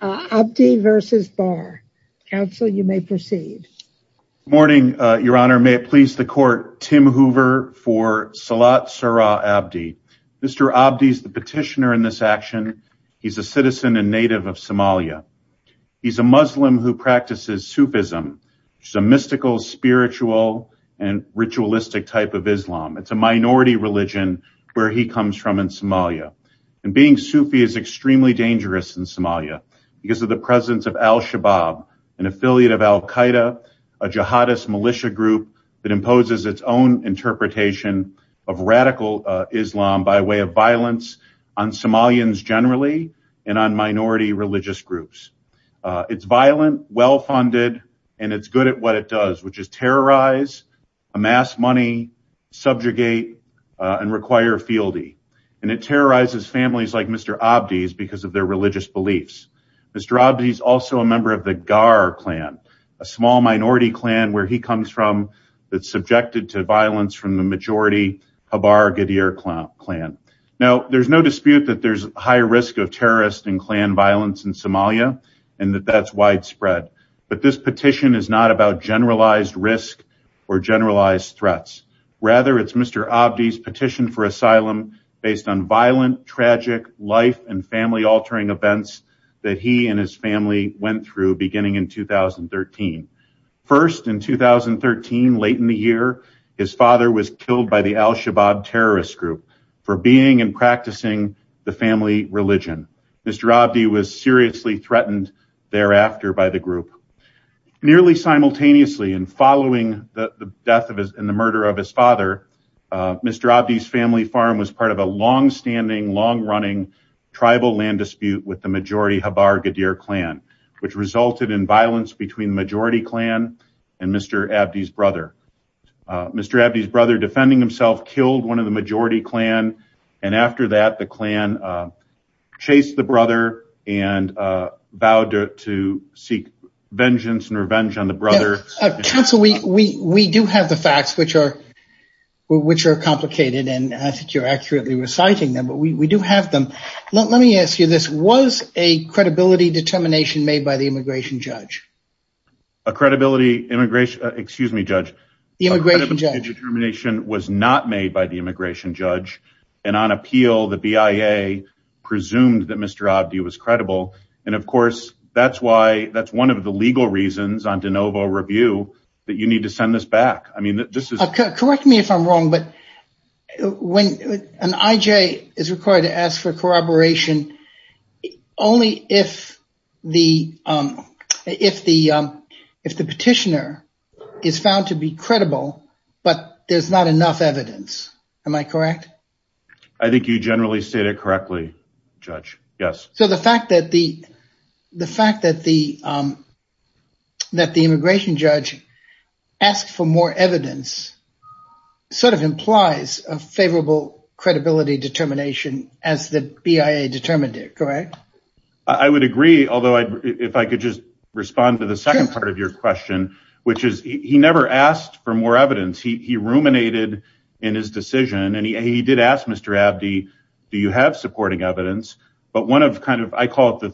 Good morning, Your Honor. May it please the Court, Tim Hoover for Salat Surah Abdi. Mr. Abdi is the petitioner in this action. He's a citizen and native of Somalia. He's a Muslim who practices Sufism, which is a mystical, spiritual, and ritualistic type of Islam. It's a minority religion where he comes from in Somalia. And being Sufi is extremely dangerous in Somalia because of the presence of Al-Shabaab, an affiliate of Al-Qaeda, a jihadist militia group that imposes its own interpretation of radical Islam by way of violence on Somalians generally and on minority religious groups. It's violent, well-funded, and it's good at what it does, which is terrorize, amass money, subjugate, and require fealty. It terrorizes families like Mr. Abdi's because of their religious beliefs. Mr. Abdi is also a member of the Ghar clan, a small minority clan where he comes from that's subjected to violence from the majority Khabar Ghadir clan. Now, there's no dispute that there's high risk of terrorist and clan violence in Somalia and that that's widespread. But this petition is not about generalized risk or generalized threats. Rather, it's Mr. Abdi's asylum based on violent, tragic life and family-altering events that he and his family went through beginning in 2013. First, in 2013, late in the year, his father was killed by the Al-Shabaab terrorist group for being and practicing the family religion. Mr. Abdi was seriously threatened thereafter by the group. Nearly simultaneously in following the death and the murder of his father, Mr. Abdi's family farm was part of a longstanding, long-running tribal land dispute with the majority Khabar Ghadir clan, which resulted in violence between the majority clan and Mr. Abdi's brother. Mr. Abdi's brother, defending himself, killed one of the majority clan, and after that, the clan chased the brother and vowed to seek vengeance and revenge on the brother. Counsel, we do have the facts, which are complicated, and I think you're accurately reciting them, but we do have them. Let me ask you this. Was a credibility determination made by the immigration judge? A credibility immigration, excuse me, Judge. The immigration judge. A credibility determination was not made by the immigration judge, and on appeal, the immigration judge was credible, and of course, that's why, that's one of the legal reasons on de novo review that you need to send this back. I mean, this is... Correct me if I'm wrong, but when an I.J. is required to ask for corroboration, only if the petitioner is found to be credible, but there's not enough evidence. Am I correct? I think you generally stated correctly, Judge. Yes. So, the fact that the immigration judge asked for more evidence sort of implies a favorable credibility determination as the BIA determined it, correct? I would agree, although if I could just respond to the second part of your question, which is he never asked for more evidence. He ruminated in his decision, and he did ask Mr. Abdi, do you have supporting evidence, but one of kind of, I call it the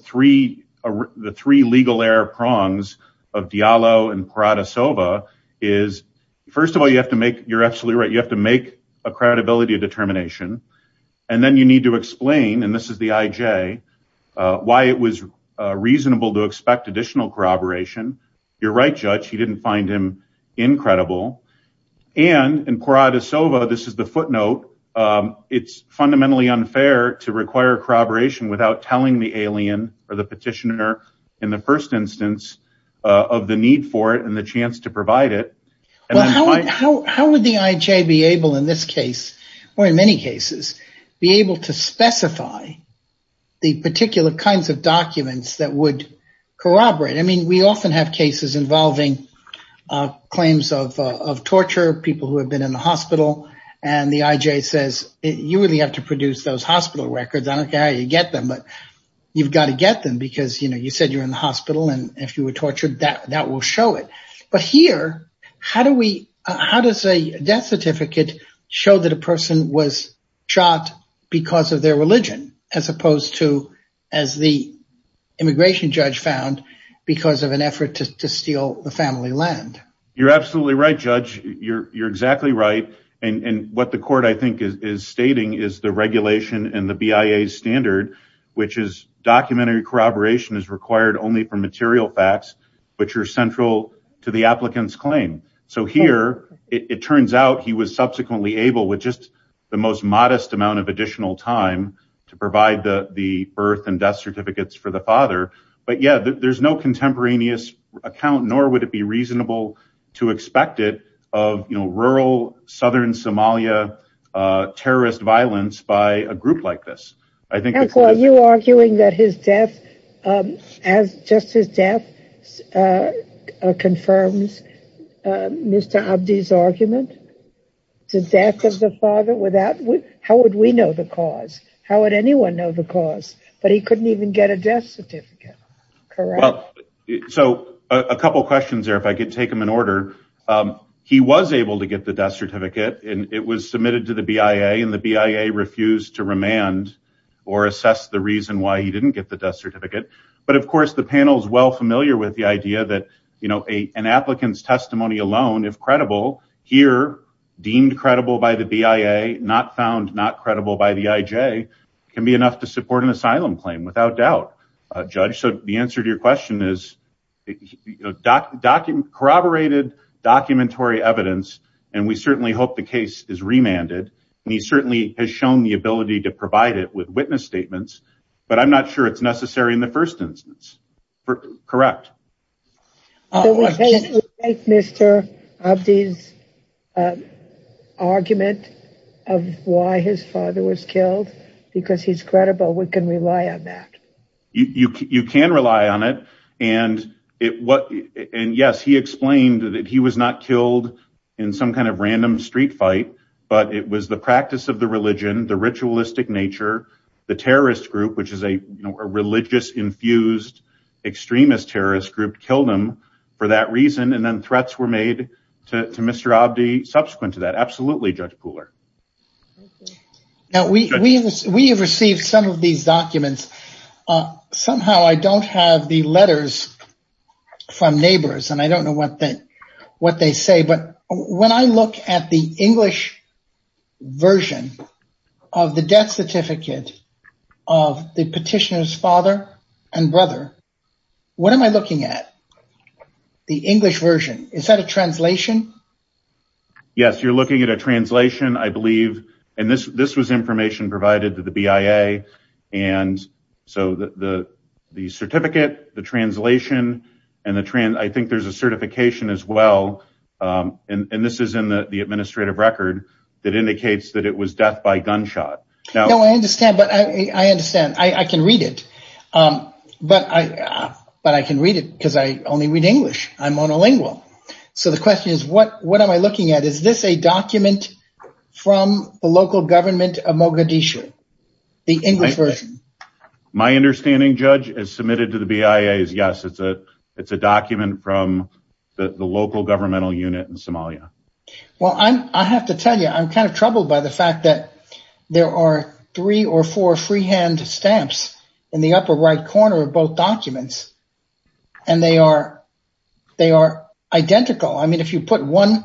three legal error prongs of Diallo and Parada-Sova is, first of all, you have to make, you're absolutely right, you have to make a credibility determination, and then you need to explain, and this is the I.J., why it was reasonable to expect additional corroboration. You're right, Judge, he didn't find him incredible, and in Parada-Sova, this is the footnote, it's fundamentally unfair to require corroboration without telling the alien or the petitioner in the first instance of the need for it and the chance to provide it. Well, how would the I.J. be able in this case, or in many cases, be able to specify the particular kinds of documents that would corroborate? I mean, we often have cases involving claims of torture, people who have been in the hospital, and the I.J. says, you really have to produce those hospital records, I don't care how you get them, but you've got to get them, because you said you're in the hospital, and if you were tortured, that will show it. But here, how does a death certificate show that a person was shot because of their religion, as opposed to, as the immigration judge found, because of an effort to steal the family land? You're absolutely right, Judge, you're exactly right, and what the court, I think, is stating is the regulation and the BIA standard, which is documentary corroboration is required only for material facts, which are central to the applicant's claim. So here, it turns out he was providing the birth and death certificates for the father, but yeah, there's no contemporaneous account, nor would it be reasonable to expect it, of rural, southern Somalia, terrorist violence by a group like this. Are you arguing that his death, as just his death, confirms Mr. Abdi's argument? The death of the father, how would we know the cause? How would anyone know the cause? But he couldn't even get a death certificate, correct? Well, so a couple questions there, if I could take them in order. He was able to get the death certificate, and it was submitted to the BIA, and the BIA refused to remand or assess the reason why he didn't get the death certificate. But of course, the panel is well familiar with the idea that, you know, an applicant's testimony alone, if credible, here, deemed credible by the BIA, not found not credible by the IJ, can be enough to support an asylum claim, without doubt, Judge. So the answer to your question is, corroborated documentary evidence, and we certainly hope the case is remanded, and he certainly has shown the ability to provide it with witness statements, but I'm not sure it's necessary in the first instance, correct? Would you take Mr. Abdi's argument of why his father was killed? Because he's credible, we can rely on that. You can rely on it, and yes, he explained that he was not killed in some kind of random street fight, but it was the practice of the religion, the ritualistic group killed him for that reason, and then threats were made to Mr. Abdi subsequent to that. Absolutely, Judge Pooler. Now, we have received some of these documents. Somehow, I don't have the letters from neighbors, and I don't know what they say, but when I look at the English version of the death certificate of the petitioner's father and brother, what am I looking at? The English version, is that a translation? Yes, you're looking at a translation, I believe, and this was information provided to the BIA, and so the certificate, the translation, and I think there's a certification as well, and this is in the administrative record that indicates that it was death by gunshot. No, I understand, but I understand. I can read it, but I can read it because I only read English. I'm monolingual, so the question is, what am I looking at? Is this a document from the local government of Mogadishu, the English version? My understanding, Judge, as submitted to the BIA is yes, it's a document from the local governmental unit in Somalia. Well, I have to tell you, I'm kind of troubled by the fact that there are three or four freehand stamps in the upper right corner of both documents, and they are identical. I mean, if you put one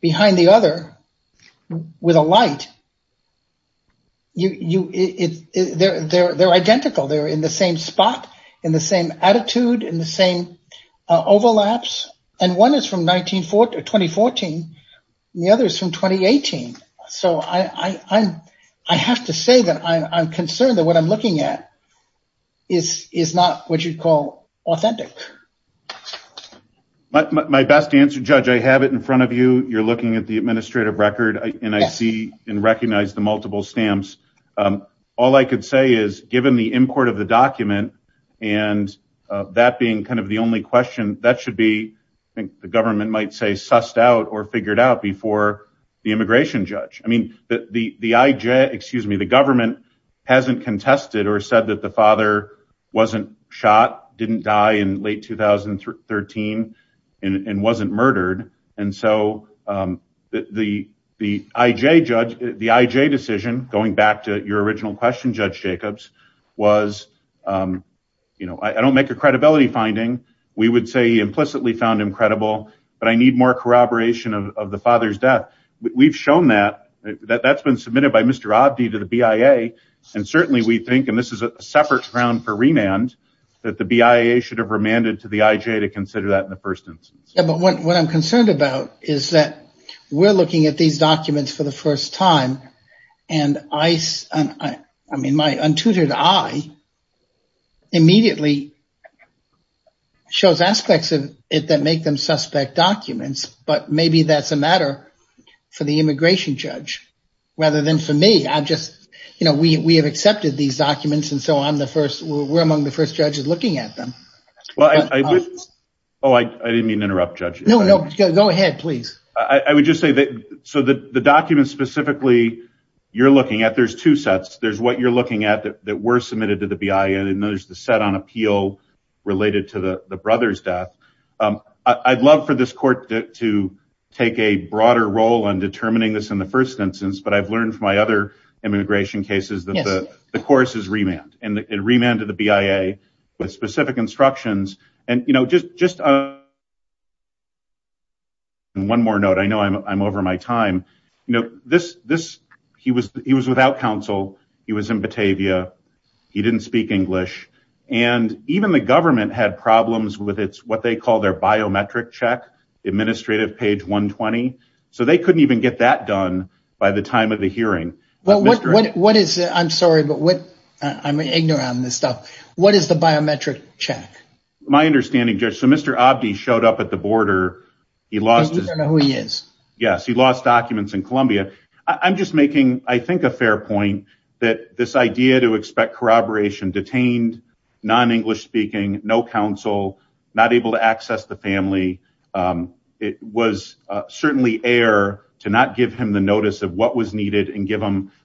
behind the other with a light, they're identical. They're in the same spot, in the same attitude, in the same overlaps, and one is from 2014, and the other is from 2018, so I have to say that I'm concerned that what I'm looking at is not what you'd call authentic. My best answer, Judge, I have it in front of you. You're looking at the administrative record, and I see and recognize the multiple stamps. All I could say is, given the import of the document, and that being kind of the only question, that should be, I think the government might say, sussed out or figured out before the immigration judge. I mean, the government hasn't contested or said that the father wasn't shot, didn't die in late 2013, and wasn't murdered, and so the IJ decision, going back to your original question, Judge Jacobs, was, you know, I don't make a statement. We would say he implicitly found him credible, but I need more corroboration of the father's death. We've shown that. That's been submitted by Mr. Abdi to the BIA, and certainly we think, and this is a separate round for remand, that the BIA should have remanded to the IJ to consider that in the first instance. Yeah, but what I'm concerned about is that we're looking at these documents for the first time, and I mean, my untutored eye immediately shows aspects of it that make them suspect documents, but maybe that's a matter for the immigration judge, rather than for me. I just, you know, we have accepted these documents, and so I'm the first, we're among the first judges looking at them. Well, I didn't mean to interrupt, Judge. No, no, go ahead, please. I would just say so the documents specifically you're looking at, there's two sets. There's what you're looking at that were submitted to the BIA, and there's the set on appeal related to the brother's death. I'd love for this court to take a broader role in determining this in the first instance, but I've learned from my other immigration cases that the course is remand, and it remanded the BIA with specific instructions, and you know, just one more note. I know I'm over my time. You know, this, he was without counsel. He was in Batavia. He didn't speak English, and even the government had problems with what they call their biometric check, administrative page 120, so they couldn't even get that done by the time of the hearing. What is, I'm sorry, but what, I'm ignorant on this stuff. What is the biometric check? My understanding, Judge, so Mr. Abdi showed up at the border. He lost his, yes, he lost documents in Columbia. I'm just making, I think, a fair point that this idea to expect corroboration, detained, non-English speaking, no counsel, not able to access the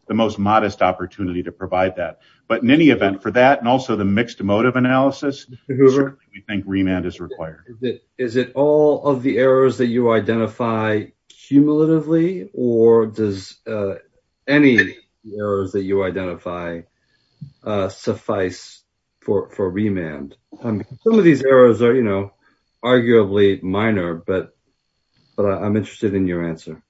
the most modest opportunity to provide that, but in any event, for that and also the mixed motive analysis, certainly we think remand is required. Is it all of the errors that you identify cumulatively, or does any errors that you identify suffice for remand? Some of these errors are, you know, arguably minor, but I'm interested in your answer.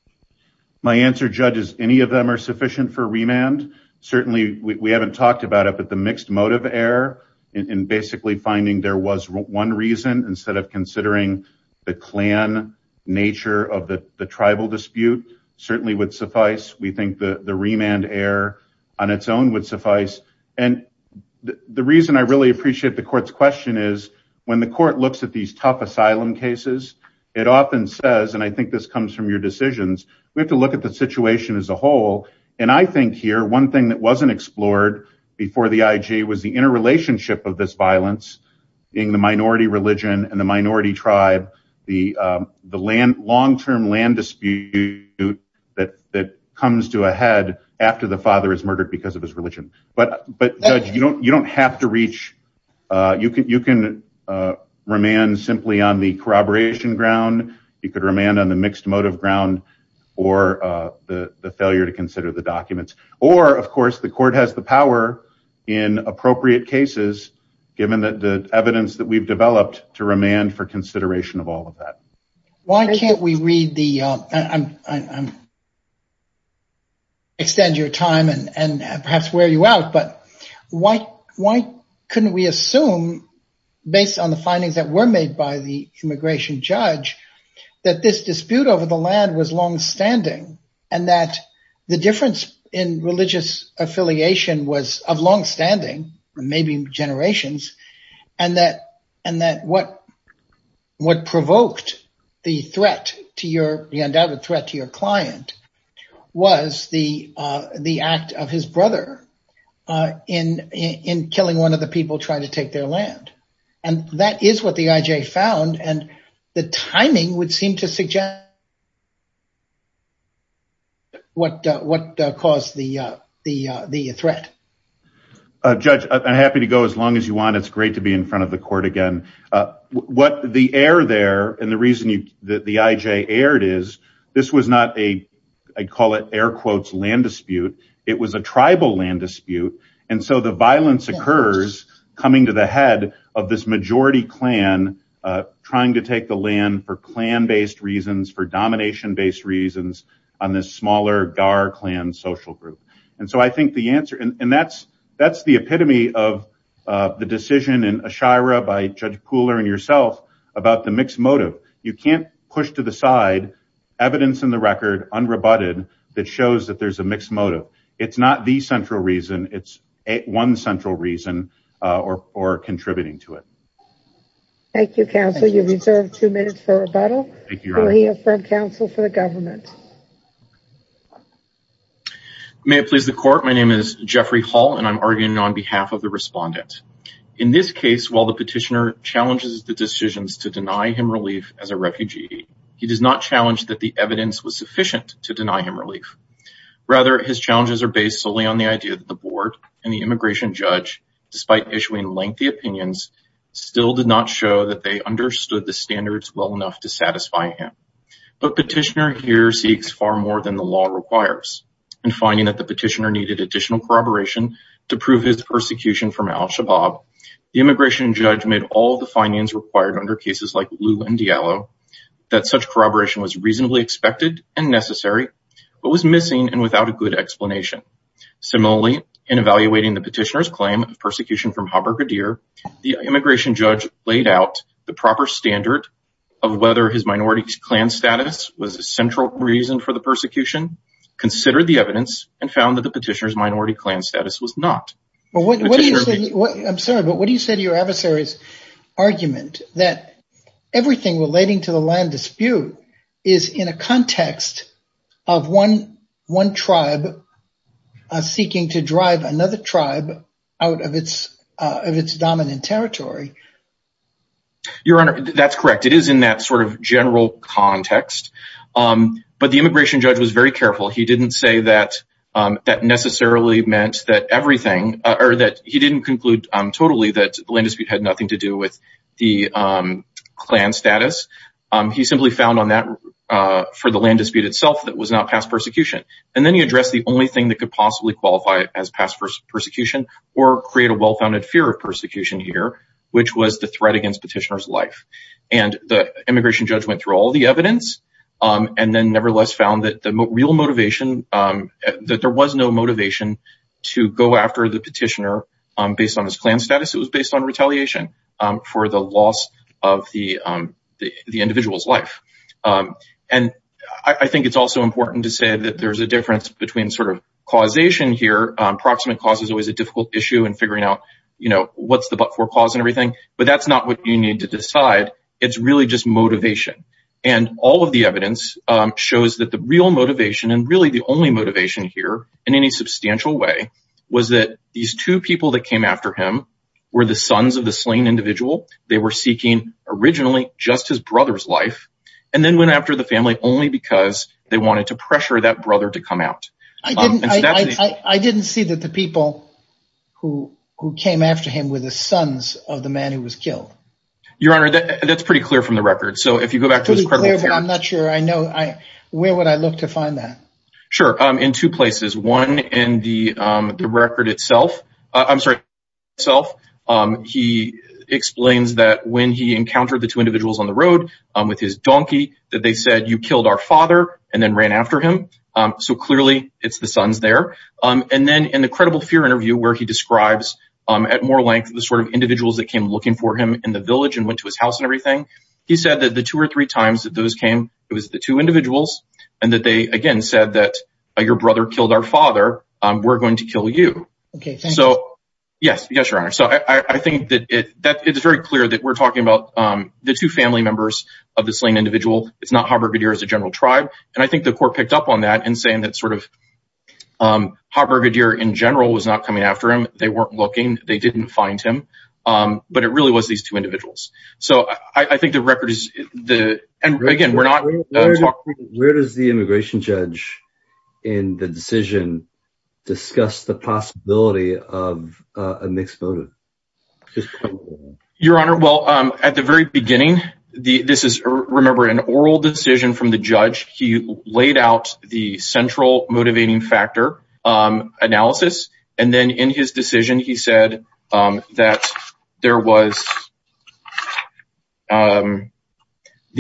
My answer, Judge, is any of them are sufficient for remand. Certainly, we haven't talked about it, but the mixed motive error in basically finding there was one reason instead of considering the clan nature of the tribal dispute certainly would suffice. We think the remand error on its own would suffice, and the reason I really appreciate the court's question is when the court looks at these tough asylum cases, it often says, and I think this comes from your decisions, we have to look at the situation as a whole, and I think here one thing that wasn't explored before the IG was the interrelationship of this violence being the minority religion and the minority tribe, the long-term land dispute that comes to a head after the father is murdered because of his religion. But, Judge, you don't could remand on the mixed motive ground or the failure to consider the documents, or, of course, the court has the power in appropriate cases, given that the evidence that we've developed to remand for consideration of all of that. Why can't we read the, extend your time and perhaps wear you out, but why couldn't we assume based on the findings that were made by the immigration judge that this dispute over the land was long-standing and that the difference in religious affiliation was of long-standing, maybe generations, and that what provoked the threat to your client was the act of his brother in killing one of the people trying to the timing would seem to suggest what caused the threat. Judge, I'm happy to go as long as you want. It's great to be in front of the court again. What the air there, and the reason that the IJ aired is, this was not a, I call it air quotes, land dispute. It was a tribal land dispute, and so the violence occurs coming to the head of this majority clan trying to take the land for clan-based reasons, for domination-based reasons, on this smaller Gar clan social group, and so I think the answer, and that's the epitome of the decision in Ashira by Judge Pooler and yourself about the mixed motive. You can't push to the side evidence in the record, unrebutted, that shows that there's mixed motive. It's not the central reason. It's one central reason or contributing to it. Thank you, counsel. You reserve two minutes for rebuttal. Thank you, Your Honor. Will he affirm counsel for the government? May it please the court, my name is Jeffrey Hall, and I'm arguing on behalf of the respondent. In this case, while the petitioner challenges the decisions to deny him relief as a refugee, he does not challenge that the evidence was sufficient to deny him relief. Rather, his challenges are based solely on the idea that the board and the immigration judge, despite issuing lengthy opinions, still did not show that they understood the standards well enough to satisfy him. But petitioner here seeks far more than the law requires, and finding that the petitioner needed additional corroboration to prove his persecution from al-Shabaab, the immigration judge made all the findings required under cases like Liu and Diallo, that such corroboration was reasonably expected and necessary, but was missing and without a good explanation. Similarly, in evaluating the petitioner's claim of persecution from Haber-Gadir, the immigration judge laid out the proper standard of whether his minority clan status was a central reason for the persecution, considered the evidence, and found that the petitioner's minority clan status was not. I'm sorry, but what do you say to your adversary's everything relating to the land dispute is in a context of one tribe seeking to drive another tribe out of its dominant territory? Your honor, that's correct. It is in that sort of general context, but the immigration judge was very careful. He didn't say that necessarily meant that everything, or that he didn't conclude totally that the land dispute had nothing to do with the clan status. He simply found on that, for the land dispute itself, that was not past persecution. And then he addressed the only thing that could possibly qualify as past persecution, or create a well-founded fear of persecution here, which was the threat against petitioner's life. And the immigration judge went through all the evidence, and then nevertheless found that the real motivation, that there was no motivation to go after the petitioner based on his clan status. It was based on retaliation for the loss of the individual's life. And I think it's also important to say that there's a difference between causation here. Approximate cause is always a difficult issue in figuring out what's the but-for cause and everything, but that's not what you need to decide. It's really just motivation. And all of the evidence shows that the real motivation, and really the only motivation here in any substantial way, was that these two people that came after him were the sons of the slain individual. They were seeking originally just his brother's life, and then went after the family only because they wanted to pressure that brother to come out. I didn't see that the people who came after him were the sons of the man who was killed. Your Honor, that's pretty clear from the record. So if you go back I'm not sure. Where would I look to find that? Sure, in two places. One in the record itself, he explains that when he encountered the two individuals on the road with his donkey, that they said, you killed our father and then ran after him. So clearly it's the sons there. And then in the credible fear interview where he describes at more length the sort of individuals that came looking for him in the village and went to his house and everything, he said that the two or three times that those came, it was the two individuals, and that they, again, said that your brother killed our father, we're going to kill you. Okay, thank you. So yes, yes, Your Honor. So I think that it's very clear that we're talking about the two family members of the slain individual. It's not Haber-Gadir as a general tribe. And I think the court picked up on that in saying that sort of Haber-Gadir in general was not coming after him. They weren't looking. They didn't find him. But it really was these two individuals. So I think the record is the, and again, we're not talking- Where does the immigration judge in the decision discuss the possibility of a mixed motive? Your Honor, well, at the very beginning, this is, remember, an oral decision from the judge. He laid out the central motivating factor analysis. And then in his decision, he said that there was the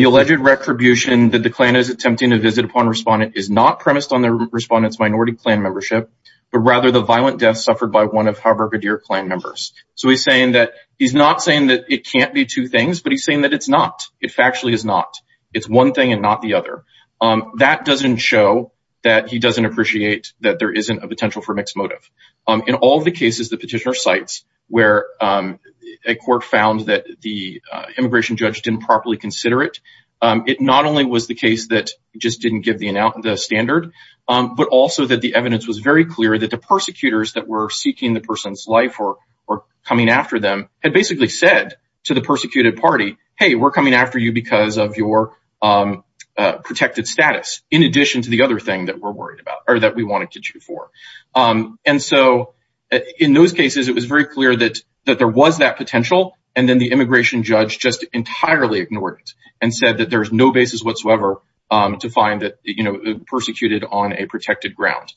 alleged retribution that the Klan is attempting to visit upon respondent is not premised on the respondent's minority Klan membership, but rather the violent death suffered by one of Haber-Gadir Klan members. So he's saying that he's not saying that it can't be two things, but he's saying that it's not. It factually is not. It's one thing and not the other. That doesn't show that he doesn't appreciate that there isn't a potential for mixed motive. In all of the cases the petitioner cites where a court found that the immigration judge didn't properly consider it, it not only was the case that just didn't give the standard, but also that the evidence was very clear that the persecutors that were seeking the person's life or coming after them had basically said to the persecuted party, hey, we're coming after you because of your protected status, in addition to the other thing that we're worried about or that we wanted to do for. And so in those cases, it was very clear that there was that potential. And then the immigration judge just entirely ignored it and said that there's no basis whatsoever to find that the persecuted on a protected ground,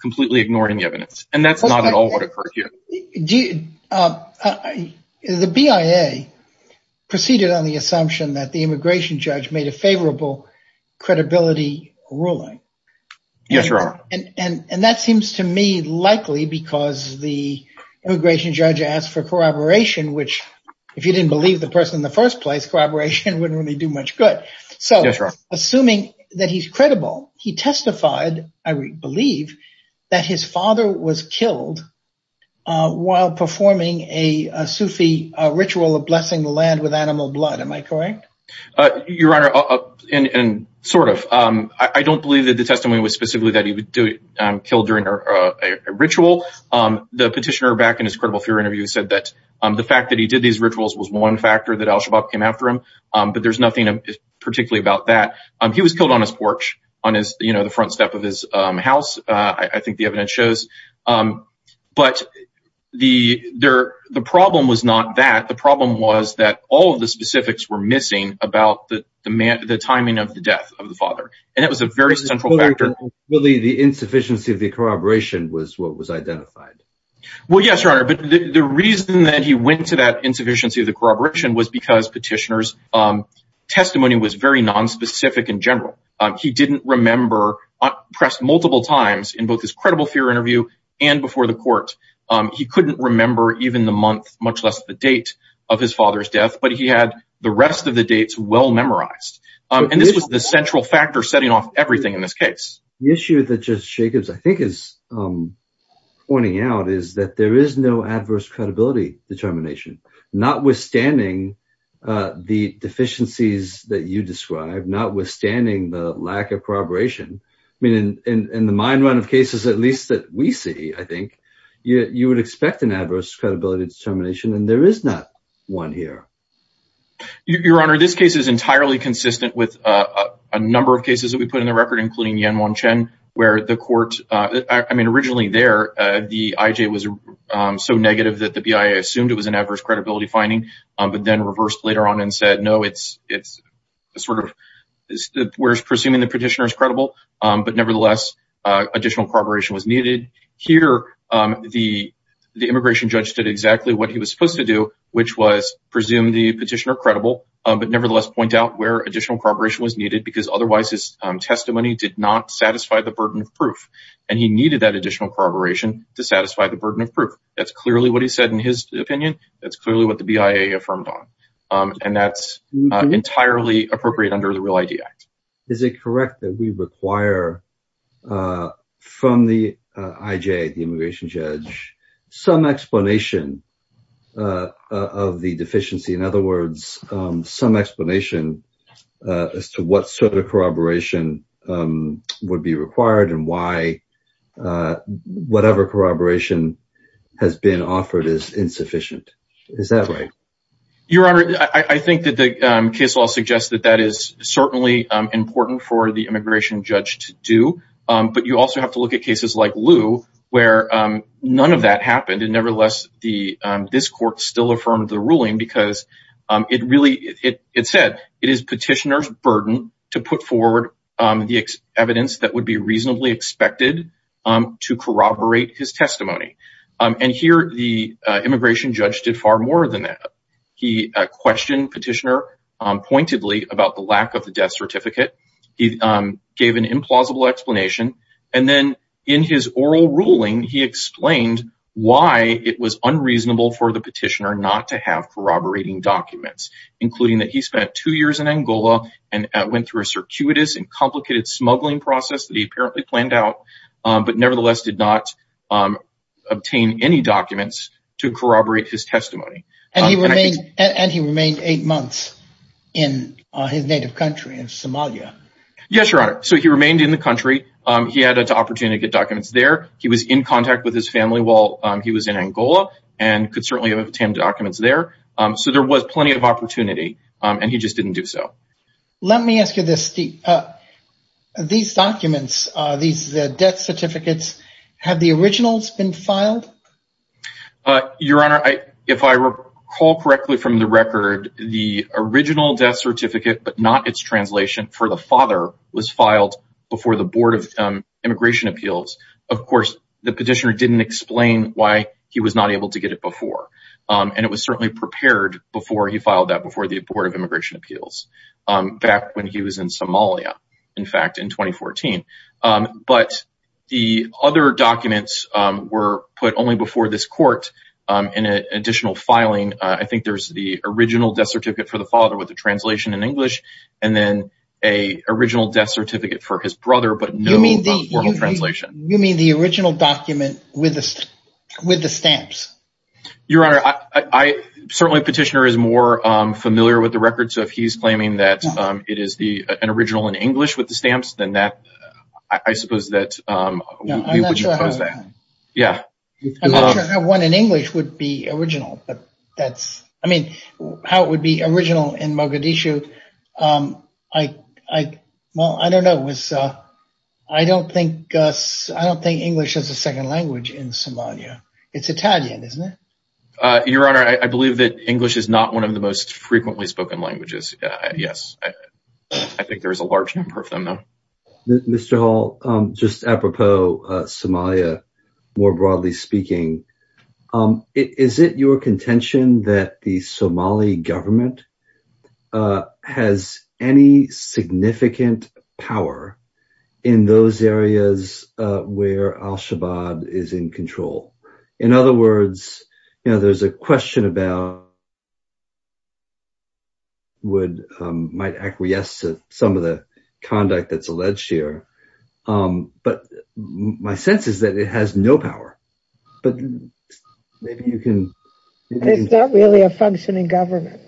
completely ignoring the evidence. And that's not at all what occurred here. The BIA proceeded on the assumption that the immigration judge made a favorable credibility ruling. And that seems to me likely because the immigration judge asked for corroboration, which if you didn't believe the person in the first place, corroboration wouldn't really do much good. So assuming that he's credible, he testified, I believe, that his father was killed while performing a Sufi ritual of blessing the land with animal blood. Am I correct? Your Honor, and sort of. I don't believe that the testimony was specifically that he would kill during a ritual. The petitioner back in his credible theory interview said that the fact that he did these rituals was one factor that al-Shabaab came after him. But there's nothing particularly about that. He was killed on his porch, on his, you know, on his porch. But the problem was not that. The problem was that all of the specifics were missing about the timing of the death of the father. And it was a very central factor. Really, the insufficiency of the corroboration was what was identified. Well, yes, Your Honor. But the reason that he went to that insufficiency of the corroboration was because petitioner's testimony was very nonspecific in general. He didn't remember, pressed multiple times in both his credible fear interview and before the court. He couldn't remember even the month, much less the date of his father's death. But he had the rest of the dates well memorized. And this was the central factor setting off everything in this case. The issue that Judge Jacobs, I think, is pointing out is that there is no adverse credibility determination, notwithstanding the deficiencies that you describe, notwithstanding the lack of corroboration. I mean, in the mind run of cases, at least that we see, I think, you would expect an adverse credibility determination. And there is not one here. Your Honor, this case is entirely consistent with a number of cases that we put in the record, including Yan-Wan Chen, where the court, I mean, originally there, the IJ was so negative that the BIA assumed it was an adverse credibility finding, but then reversed later on and said, no, it's sort of where it's presuming the petitioner is credible, but nevertheless, additional corroboration was needed. Here, the immigration judge did exactly what he was supposed to do, which was presume the petitioner credible, but nevertheless point out where additional corroboration was needed because otherwise his testimony did not satisfy the burden of proof. And he needed that additional corroboration to satisfy the burden of proof. That's clearly what he said in his opinion. That's clearly what the BIA affirmed on. And that's entirely appropriate under the Real ID Act. Is it correct that we require from the IJ, the immigration judge, some explanation of the deficiency? In other words, some explanation as to what sort of corroboration has been offered is insufficient. Is that right? Your Honor, I think that the case law suggests that that is certainly important for the immigration judge to do. But you also have to look at cases like Lou, where none of that happened. And nevertheless, this court still affirmed the ruling because it really, it said it is petitioner's to corroborate his testimony. And here the immigration judge did far more than that. He questioned petitioner pointedly about the lack of the death certificate. He gave an implausible explanation. And then in his oral ruling, he explained why it was unreasonable for the petitioner not to have corroborating documents, including that he spent two years in Angola and went through a circuitous and complicated smuggling process that he apparently planned out, but nevertheless did not obtain any documents to corroborate his testimony. And he remained eight months in his native country of Somalia. Yes, Your Honor. So he remained in the country. He had an opportunity to get documents there. He was in contact with his family while he was in Angola and could certainly have obtained documents there. So there was plenty of opportunity and he just didn't do so. Let me ask you this. These documents, these death certificates, have the originals been filed? Your Honor, if I recall correctly from the record, the original death certificate, but not its translation for the father was filed before the board of immigration appeals. Of course, the petitioner didn't explain why he was not able to get it before. And it was certainly prepared before he filed that before the board of immigration appeals, back when he was in Somalia, in fact, in 2014. But the other documents were put only before this court in additional filing. I think there's the original death certificate for the father with the translation in English and then a original death certificate for his brother, but no formal translation. You mean the original document with the stamps? Your Honor, certainly the petitioner is more familiar with the record. So if he's claiming that it is an original in English with the stamps, then I suppose that we wouldn't oppose that. I'm not sure how one in English would be original. I mean, how it would be original in Mogadishu, I don't know. I don't think English is a second language in Somalia. It's Italian, isn't it? Your Honor, I believe that English is not one of the most frequently spoken languages. Yes. I think there's a large number of them, though. Mr. Hall, just apropos Somalia, more broadly speaking, is it your contention that the Somali government has any significant power in those areas where al-Shabaab is in control? In other words, you know, there's a question about would might acquiesce to some of the conduct that's alleged here. But my sense is that it has no power, but maybe you can... It's not really a functioning government.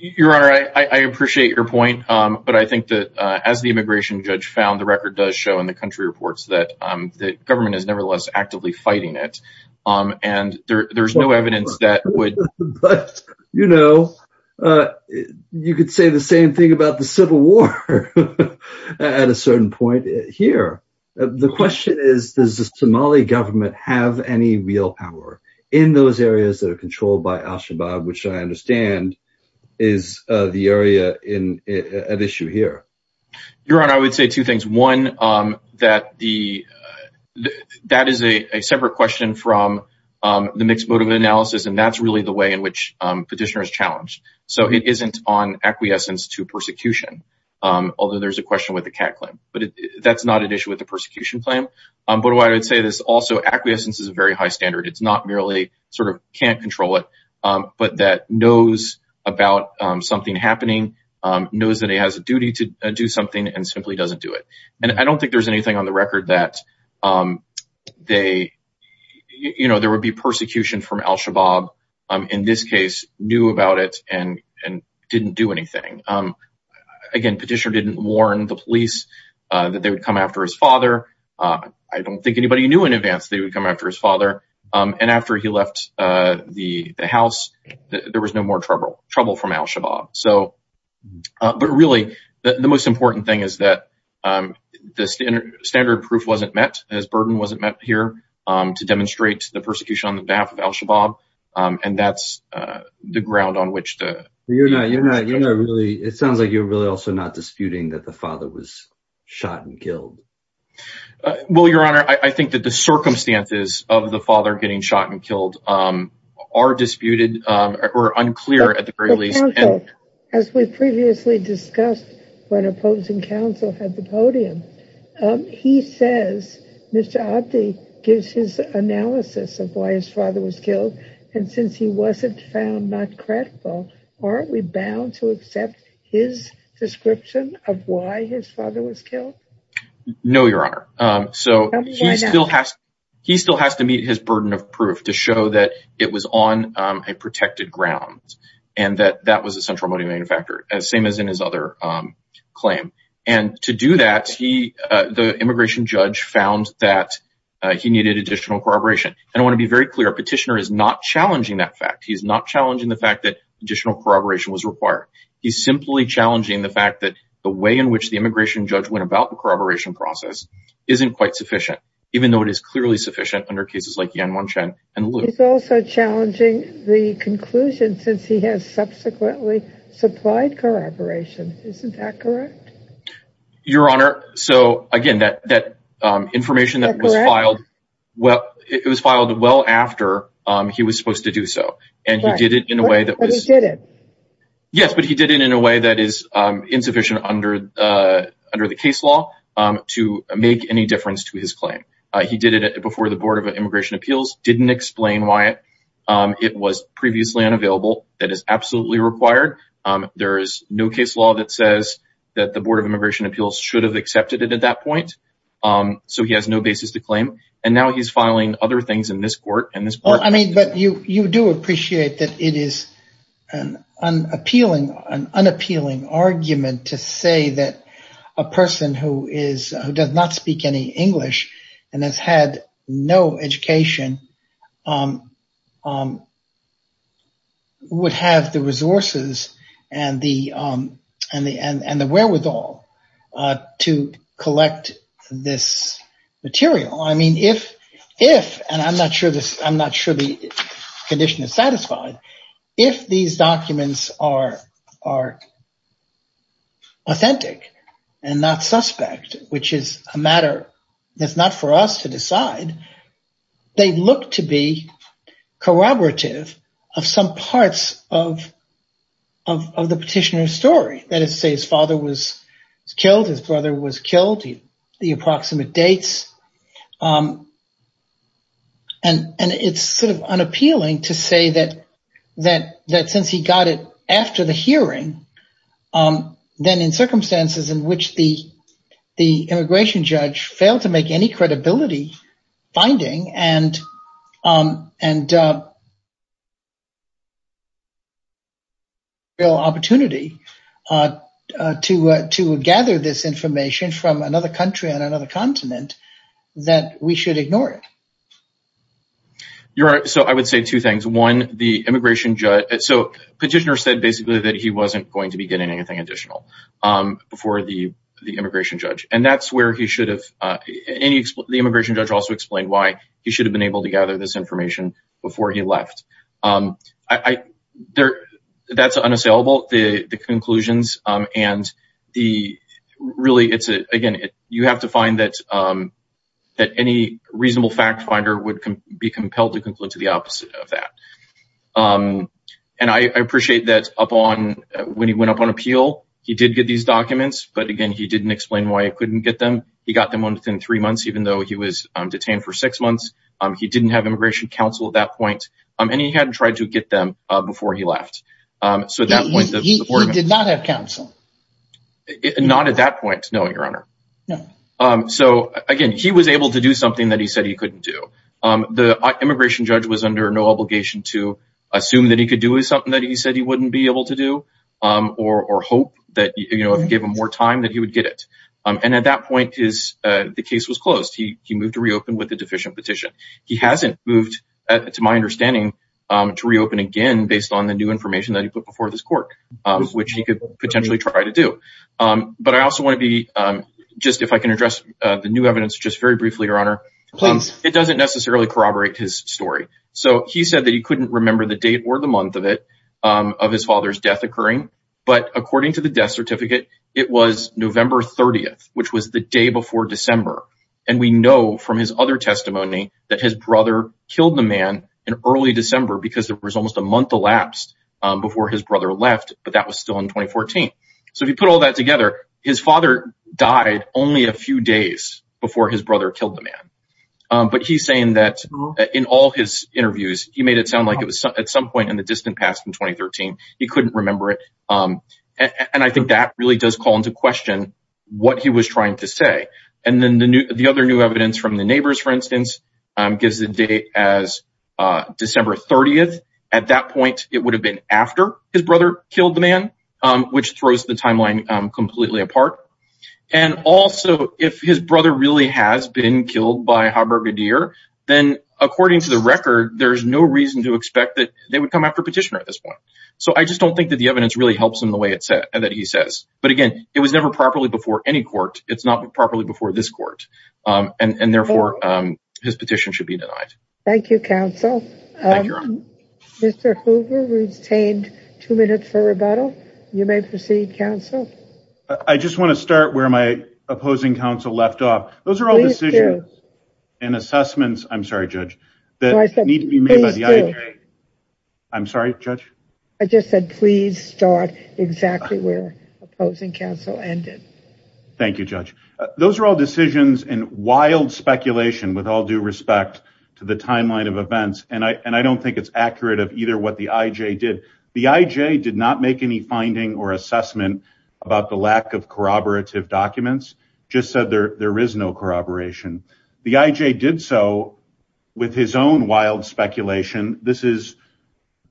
Your Honor, I appreciate your point, but I think that as the immigration judge found, the record does show in the country reports that the government is nevertheless actively fighting it. And there's no evidence that would... You know, you could say the same thing about the civil war at a certain point here. The question is, does the Somali government have any real power in those areas that are controlled by al-Shabaab, which I understand is the area at issue here? Your Honor, I would say two things. One, that is a separate question from the mixed motive analysis, and that's really the way in which Petitioner is challenged. So it isn't on acquiescence to persecution, although there's a question with the cat claim. But that's not an issue with the persecution claim. But I would say this also, acquiescence is a very high standard. It's not merely sort of can't control it, but that knows about something happening, knows that he has a duty to do something and simply doesn't do it. And I don't think there's anything on the record that there would be persecution from al-Shabaab in this case, knew about it and didn't do anything. Again, Petitioner didn't warn the police that they would come after his father. I don't think anybody knew in advance that he would come after his father. And after he left the house, there was no more trouble from al-Shabaab. So, but really the most important thing is that the standard proof wasn't met, his burden wasn't met here to demonstrate the persecution on the behalf of al-Shabaab. And that's the ground on which the... It sounds like you're really also not disputing that the father was shot and killed. Well, Your Honor, I think that the circumstances of the father getting shot and killed are disputed or unclear at the very least. As we previously discussed when opposing counsel had the podium, he says, Mr. Abdi gives his analysis of why his father was killed. And since he wasn't found not credible, aren't we bound to accept his description of why his father was killed? No, Your Honor. He still has to meet his burden of proof to show that it was on a protected ground and that that was a central motivating factor, same as in his other claim. And to do that, the immigration judge found that he needed additional corroboration. And I want to be very clear, Petitioner is not challenging that fact. He's not challenging the fact that additional corroboration was required. He's simply challenging the fact that the way in which the immigration judge went about the corroboration process isn't quite sufficient, even though it is clearly sufficient under cases like Yan Wan-Chen and Liu. He's also challenging the conclusion since he has subsequently supplied corroboration. Isn't that correct? Your Honor, so again, that information that was filed, well, it was filed well after he was supposed to do so. And he did it in a way that was... But he did it. Yes, but he did it in a way that is insufficient under the case law to make any difference to his claim. He did it before the Board of Immigration Appeals. Didn't explain why it was previously unavailable. That is absolutely required. There is no case law that says that the Board of Immigration Appeals should have accepted it at that point. So he has no basis to claim. And now he's filing other things in this court. And this court... I mean, but you do appreciate that it is an unappealing argument to say that a person who does not speak any English and has had no education would have the resources and the wherewithal to collect this material. I mean, if, and I'm not sure the condition is satisfied, if these documents are authentic and not suspect, which is a matter that's not for us to decide, they look to be corroborative of some parts of the petitioner's story. That is to say, his father was killed, his brother was killed, the approximate dates. And it's sort of unappealing to say that since he got it after the hearing, then in circumstances in which the immigration judge failed to make any credibility finding and opportunity to gather this information from another country on another continent, that we should ignore it. Your Honor, so I would say two things. One, the immigration judge... So petitioner said basically that he wasn't going to be getting anything additional before the immigration judge. And that's where he should have... The immigration judge also explained why he should have been able to gather this information before he left. That's unassailable, the conclusions. And really, again, you have to find that any reasonable fact finder would be compelled to conclude to the opposite of that. And I appreciate that when he went up on appeal, he did get these documents. But again, he didn't explain why he couldn't get them. He got them within three months, even though he was detained for six months. He didn't have immigration counsel at that point. And he hadn't tried to get them before he left. So at that point... He did not have counsel. Not at that point. No, Your Honor. So again, he was able to do something that he said he couldn't do. The immigration judge was under no obligation to assume that he could do something that he said he wouldn't be able to do or hope that if you gave him more time that he would get it. And at that point, the case was closed. He moved to reopen with a deficient petition. He hasn't moved, to my understanding, to reopen again based on the new information that he put before this court, which he could potentially try to do. But I also want to be... Just if I can address the new evidence, just very briefly, Your Honor. Please. It doesn't necessarily corroborate his story. So he said that he couldn't remember the date or the month of it, of his father's death occurring. But according to the death certificate, it was November 30th, which was the day before December. And we know from his other testimony that his brother killed the man in early December because there was almost a month elapsed before his brother left, but that was still in 2014. So if you put all that together, his father died only a few days before his brother killed the man. But he's saying that in all his interviews, he made it sound like it was at some point in the distant past in 2013. He couldn't remember it. And I think that really does call into question what he was trying to say. And then the other new evidence from the neighbors, for instance, gives the date as December 30th. At that point, it would have been after his brother killed the man, which throws the timeline completely apart. And also, if his brother really has been killed by Haber-Gadir, then according to the record, there's no reason to expect that they would come after Petitioner at this point. So I just don't think that the evidence really helps him the way that he says. But again, it was never properly before any court. It's not properly before this court. And therefore, his petition should be denied. Thank you, counsel. Mr. Hoover, we've retained two minutes for rebuttal. You may proceed, counsel. I just want to start where my opposing counsel left off. Those are all decisions and assessments. I'm sorry, Judge. I'm sorry, Judge. I just said, please start exactly where opposing counsel ended. Thank you, Judge. Those are all decisions and wild speculation with all due respect to the timeline of events. And I don't think it's accurate of either what the IJ did. The IJ did not make any finding or assessment about the lack of corroborative documents, just said there is no corroboration. The IJ did so with his own wild speculation. This is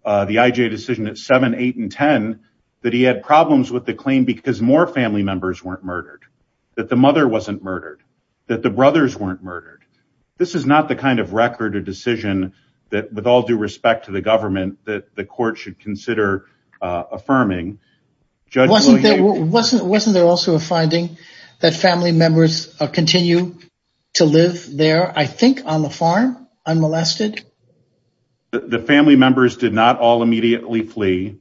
the IJ decision at 7, 8, and 10, that he had problems with the claim because more family members weren't murdered, that the mother wasn't murdered, that the brothers weren't murdered. This is not the kind of record or decision that with all due respect to the government, that the court should consider affirming. Wasn't there also a finding that family members continue to live there, I think on the farm, unmolested? The family members did not all immediately flee.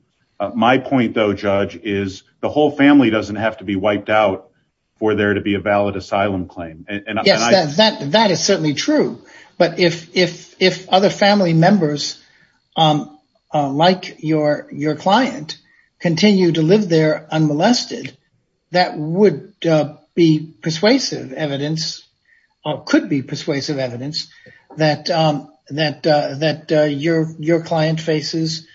My point though, Judge, is the whole family doesn't have to be wiped out for there to be a valid asylum claim. That is certainly true. But if other family members, like your client, continue to live there unmolested, that would be persuasive evidence, or could be persuasive evidence, that your client faces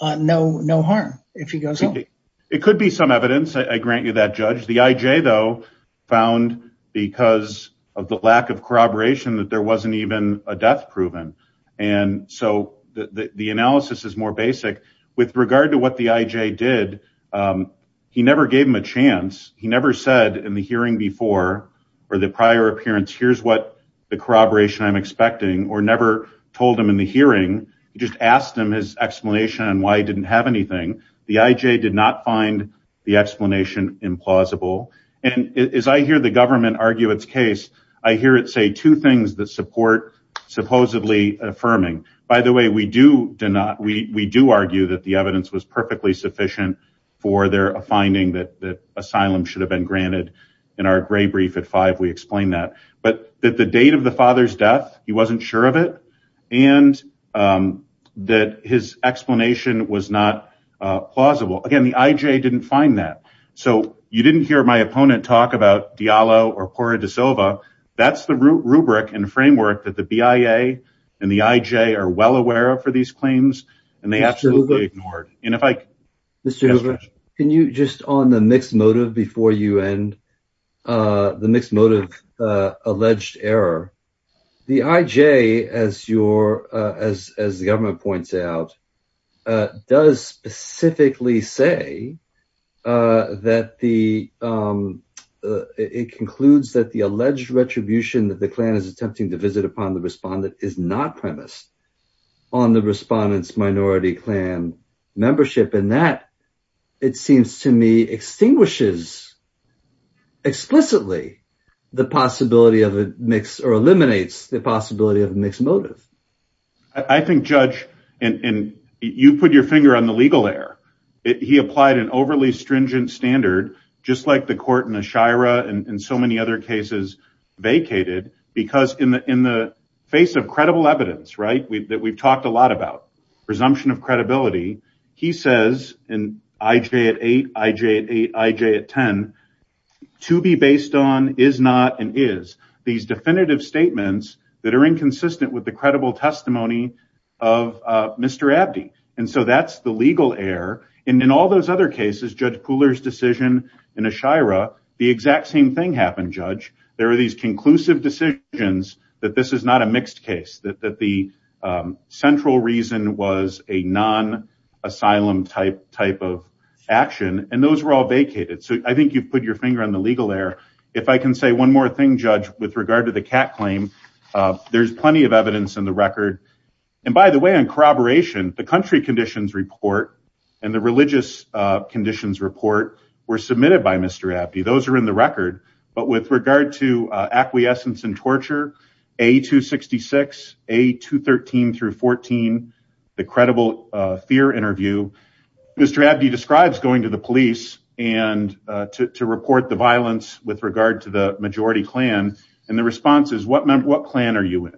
no harm if he goes home. It could be some evidence, I grant you that, Judge. The IJ, though, found, because of the lack of corroboration, that there wasn't even a death proven. So the analysis is more basic. With regard to what the IJ did, he never gave him a chance. He never said in the hearing before, or the prior appearance, here's what the corroboration I'm expecting, or never told him in the hearing. He just asked him his explanation and why he didn't have anything. The IJ did not find the explanation implausible. And as I hear the government argue its case, I hear it say two things that support supposedly affirming. By the way, we do argue that the evidence was perfectly sufficient for their finding that asylum should have been granted. In our gray brief at five, we explain that. But that the date of the father's death, he wasn't sure of it. And that his explanation was not plausible. Again, the IJ didn't find that. So you didn't hear my opponent talk about Diallo or Pora da Silva. That's the rubric and framework that the BIA and the IJ are well aware of for these claims. And they absolutely ignored. And if I... Mr. Hoover, can you, just on the mixed motive, before you end, the mixed motive alleged error. The IJ, as the government points out, does specifically say that it concludes that the alleged retribution that the Klan is attempting to visit upon the respondent is not premised on the respondent's minority Klan membership. And that, it seems to me, extinguishes explicitly the possibility of a mixed... Or eliminates the possibility of a mixed motive. I think, Judge, and you put your finger on the legal error. He applied an overly stringent standard, just like the court in the Shira and so many other cases vacated. Because in the face of credible evidence, right? That we've talked a lot about, presumption of credibility. He says, and IJ at eight, IJ at eight, IJ at 10, to be based on, is not, and is. These definitive statements that are inconsistent with the credible testimony of Mr. Abdi. And so that's the legal error. And in all those other cases, Judge Pooler's decision in a Shira, the exact same thing happened, Judge. There are these conclusive decisions that this is not a mixed case. That the central reason was a non-asylum type of action. And those were all vacated. So I think you've put your finger on the legal error. If I can say one more thing, Judge, with regard to the cat claim, there's plenty of evidence in the record. And by the way, on corroboration, the country conditions report and the religious conditions report were submitted by Mr. Abdi. Those are in the record. But with regard to acquiescence and torture, A266, A213 through 14, the credible fear interview, Mr. Abdi describes going to the police and to report the violence with regard to the majority clan. And the response is, what clan are you in?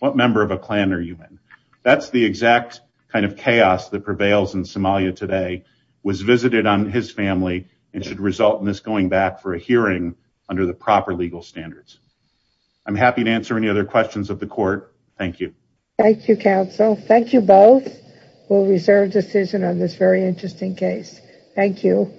What member of a clan are you in? That's the exact kind of chaos that prevails in Somalia today. Was visited on his family and should result in this going back for a hearing under the proper legal standards. I'm happy to answer any other questions of the court. Thank you. Thank you, counsel. Thank you both. We'll reserve decision on this very interesting case. Thank you.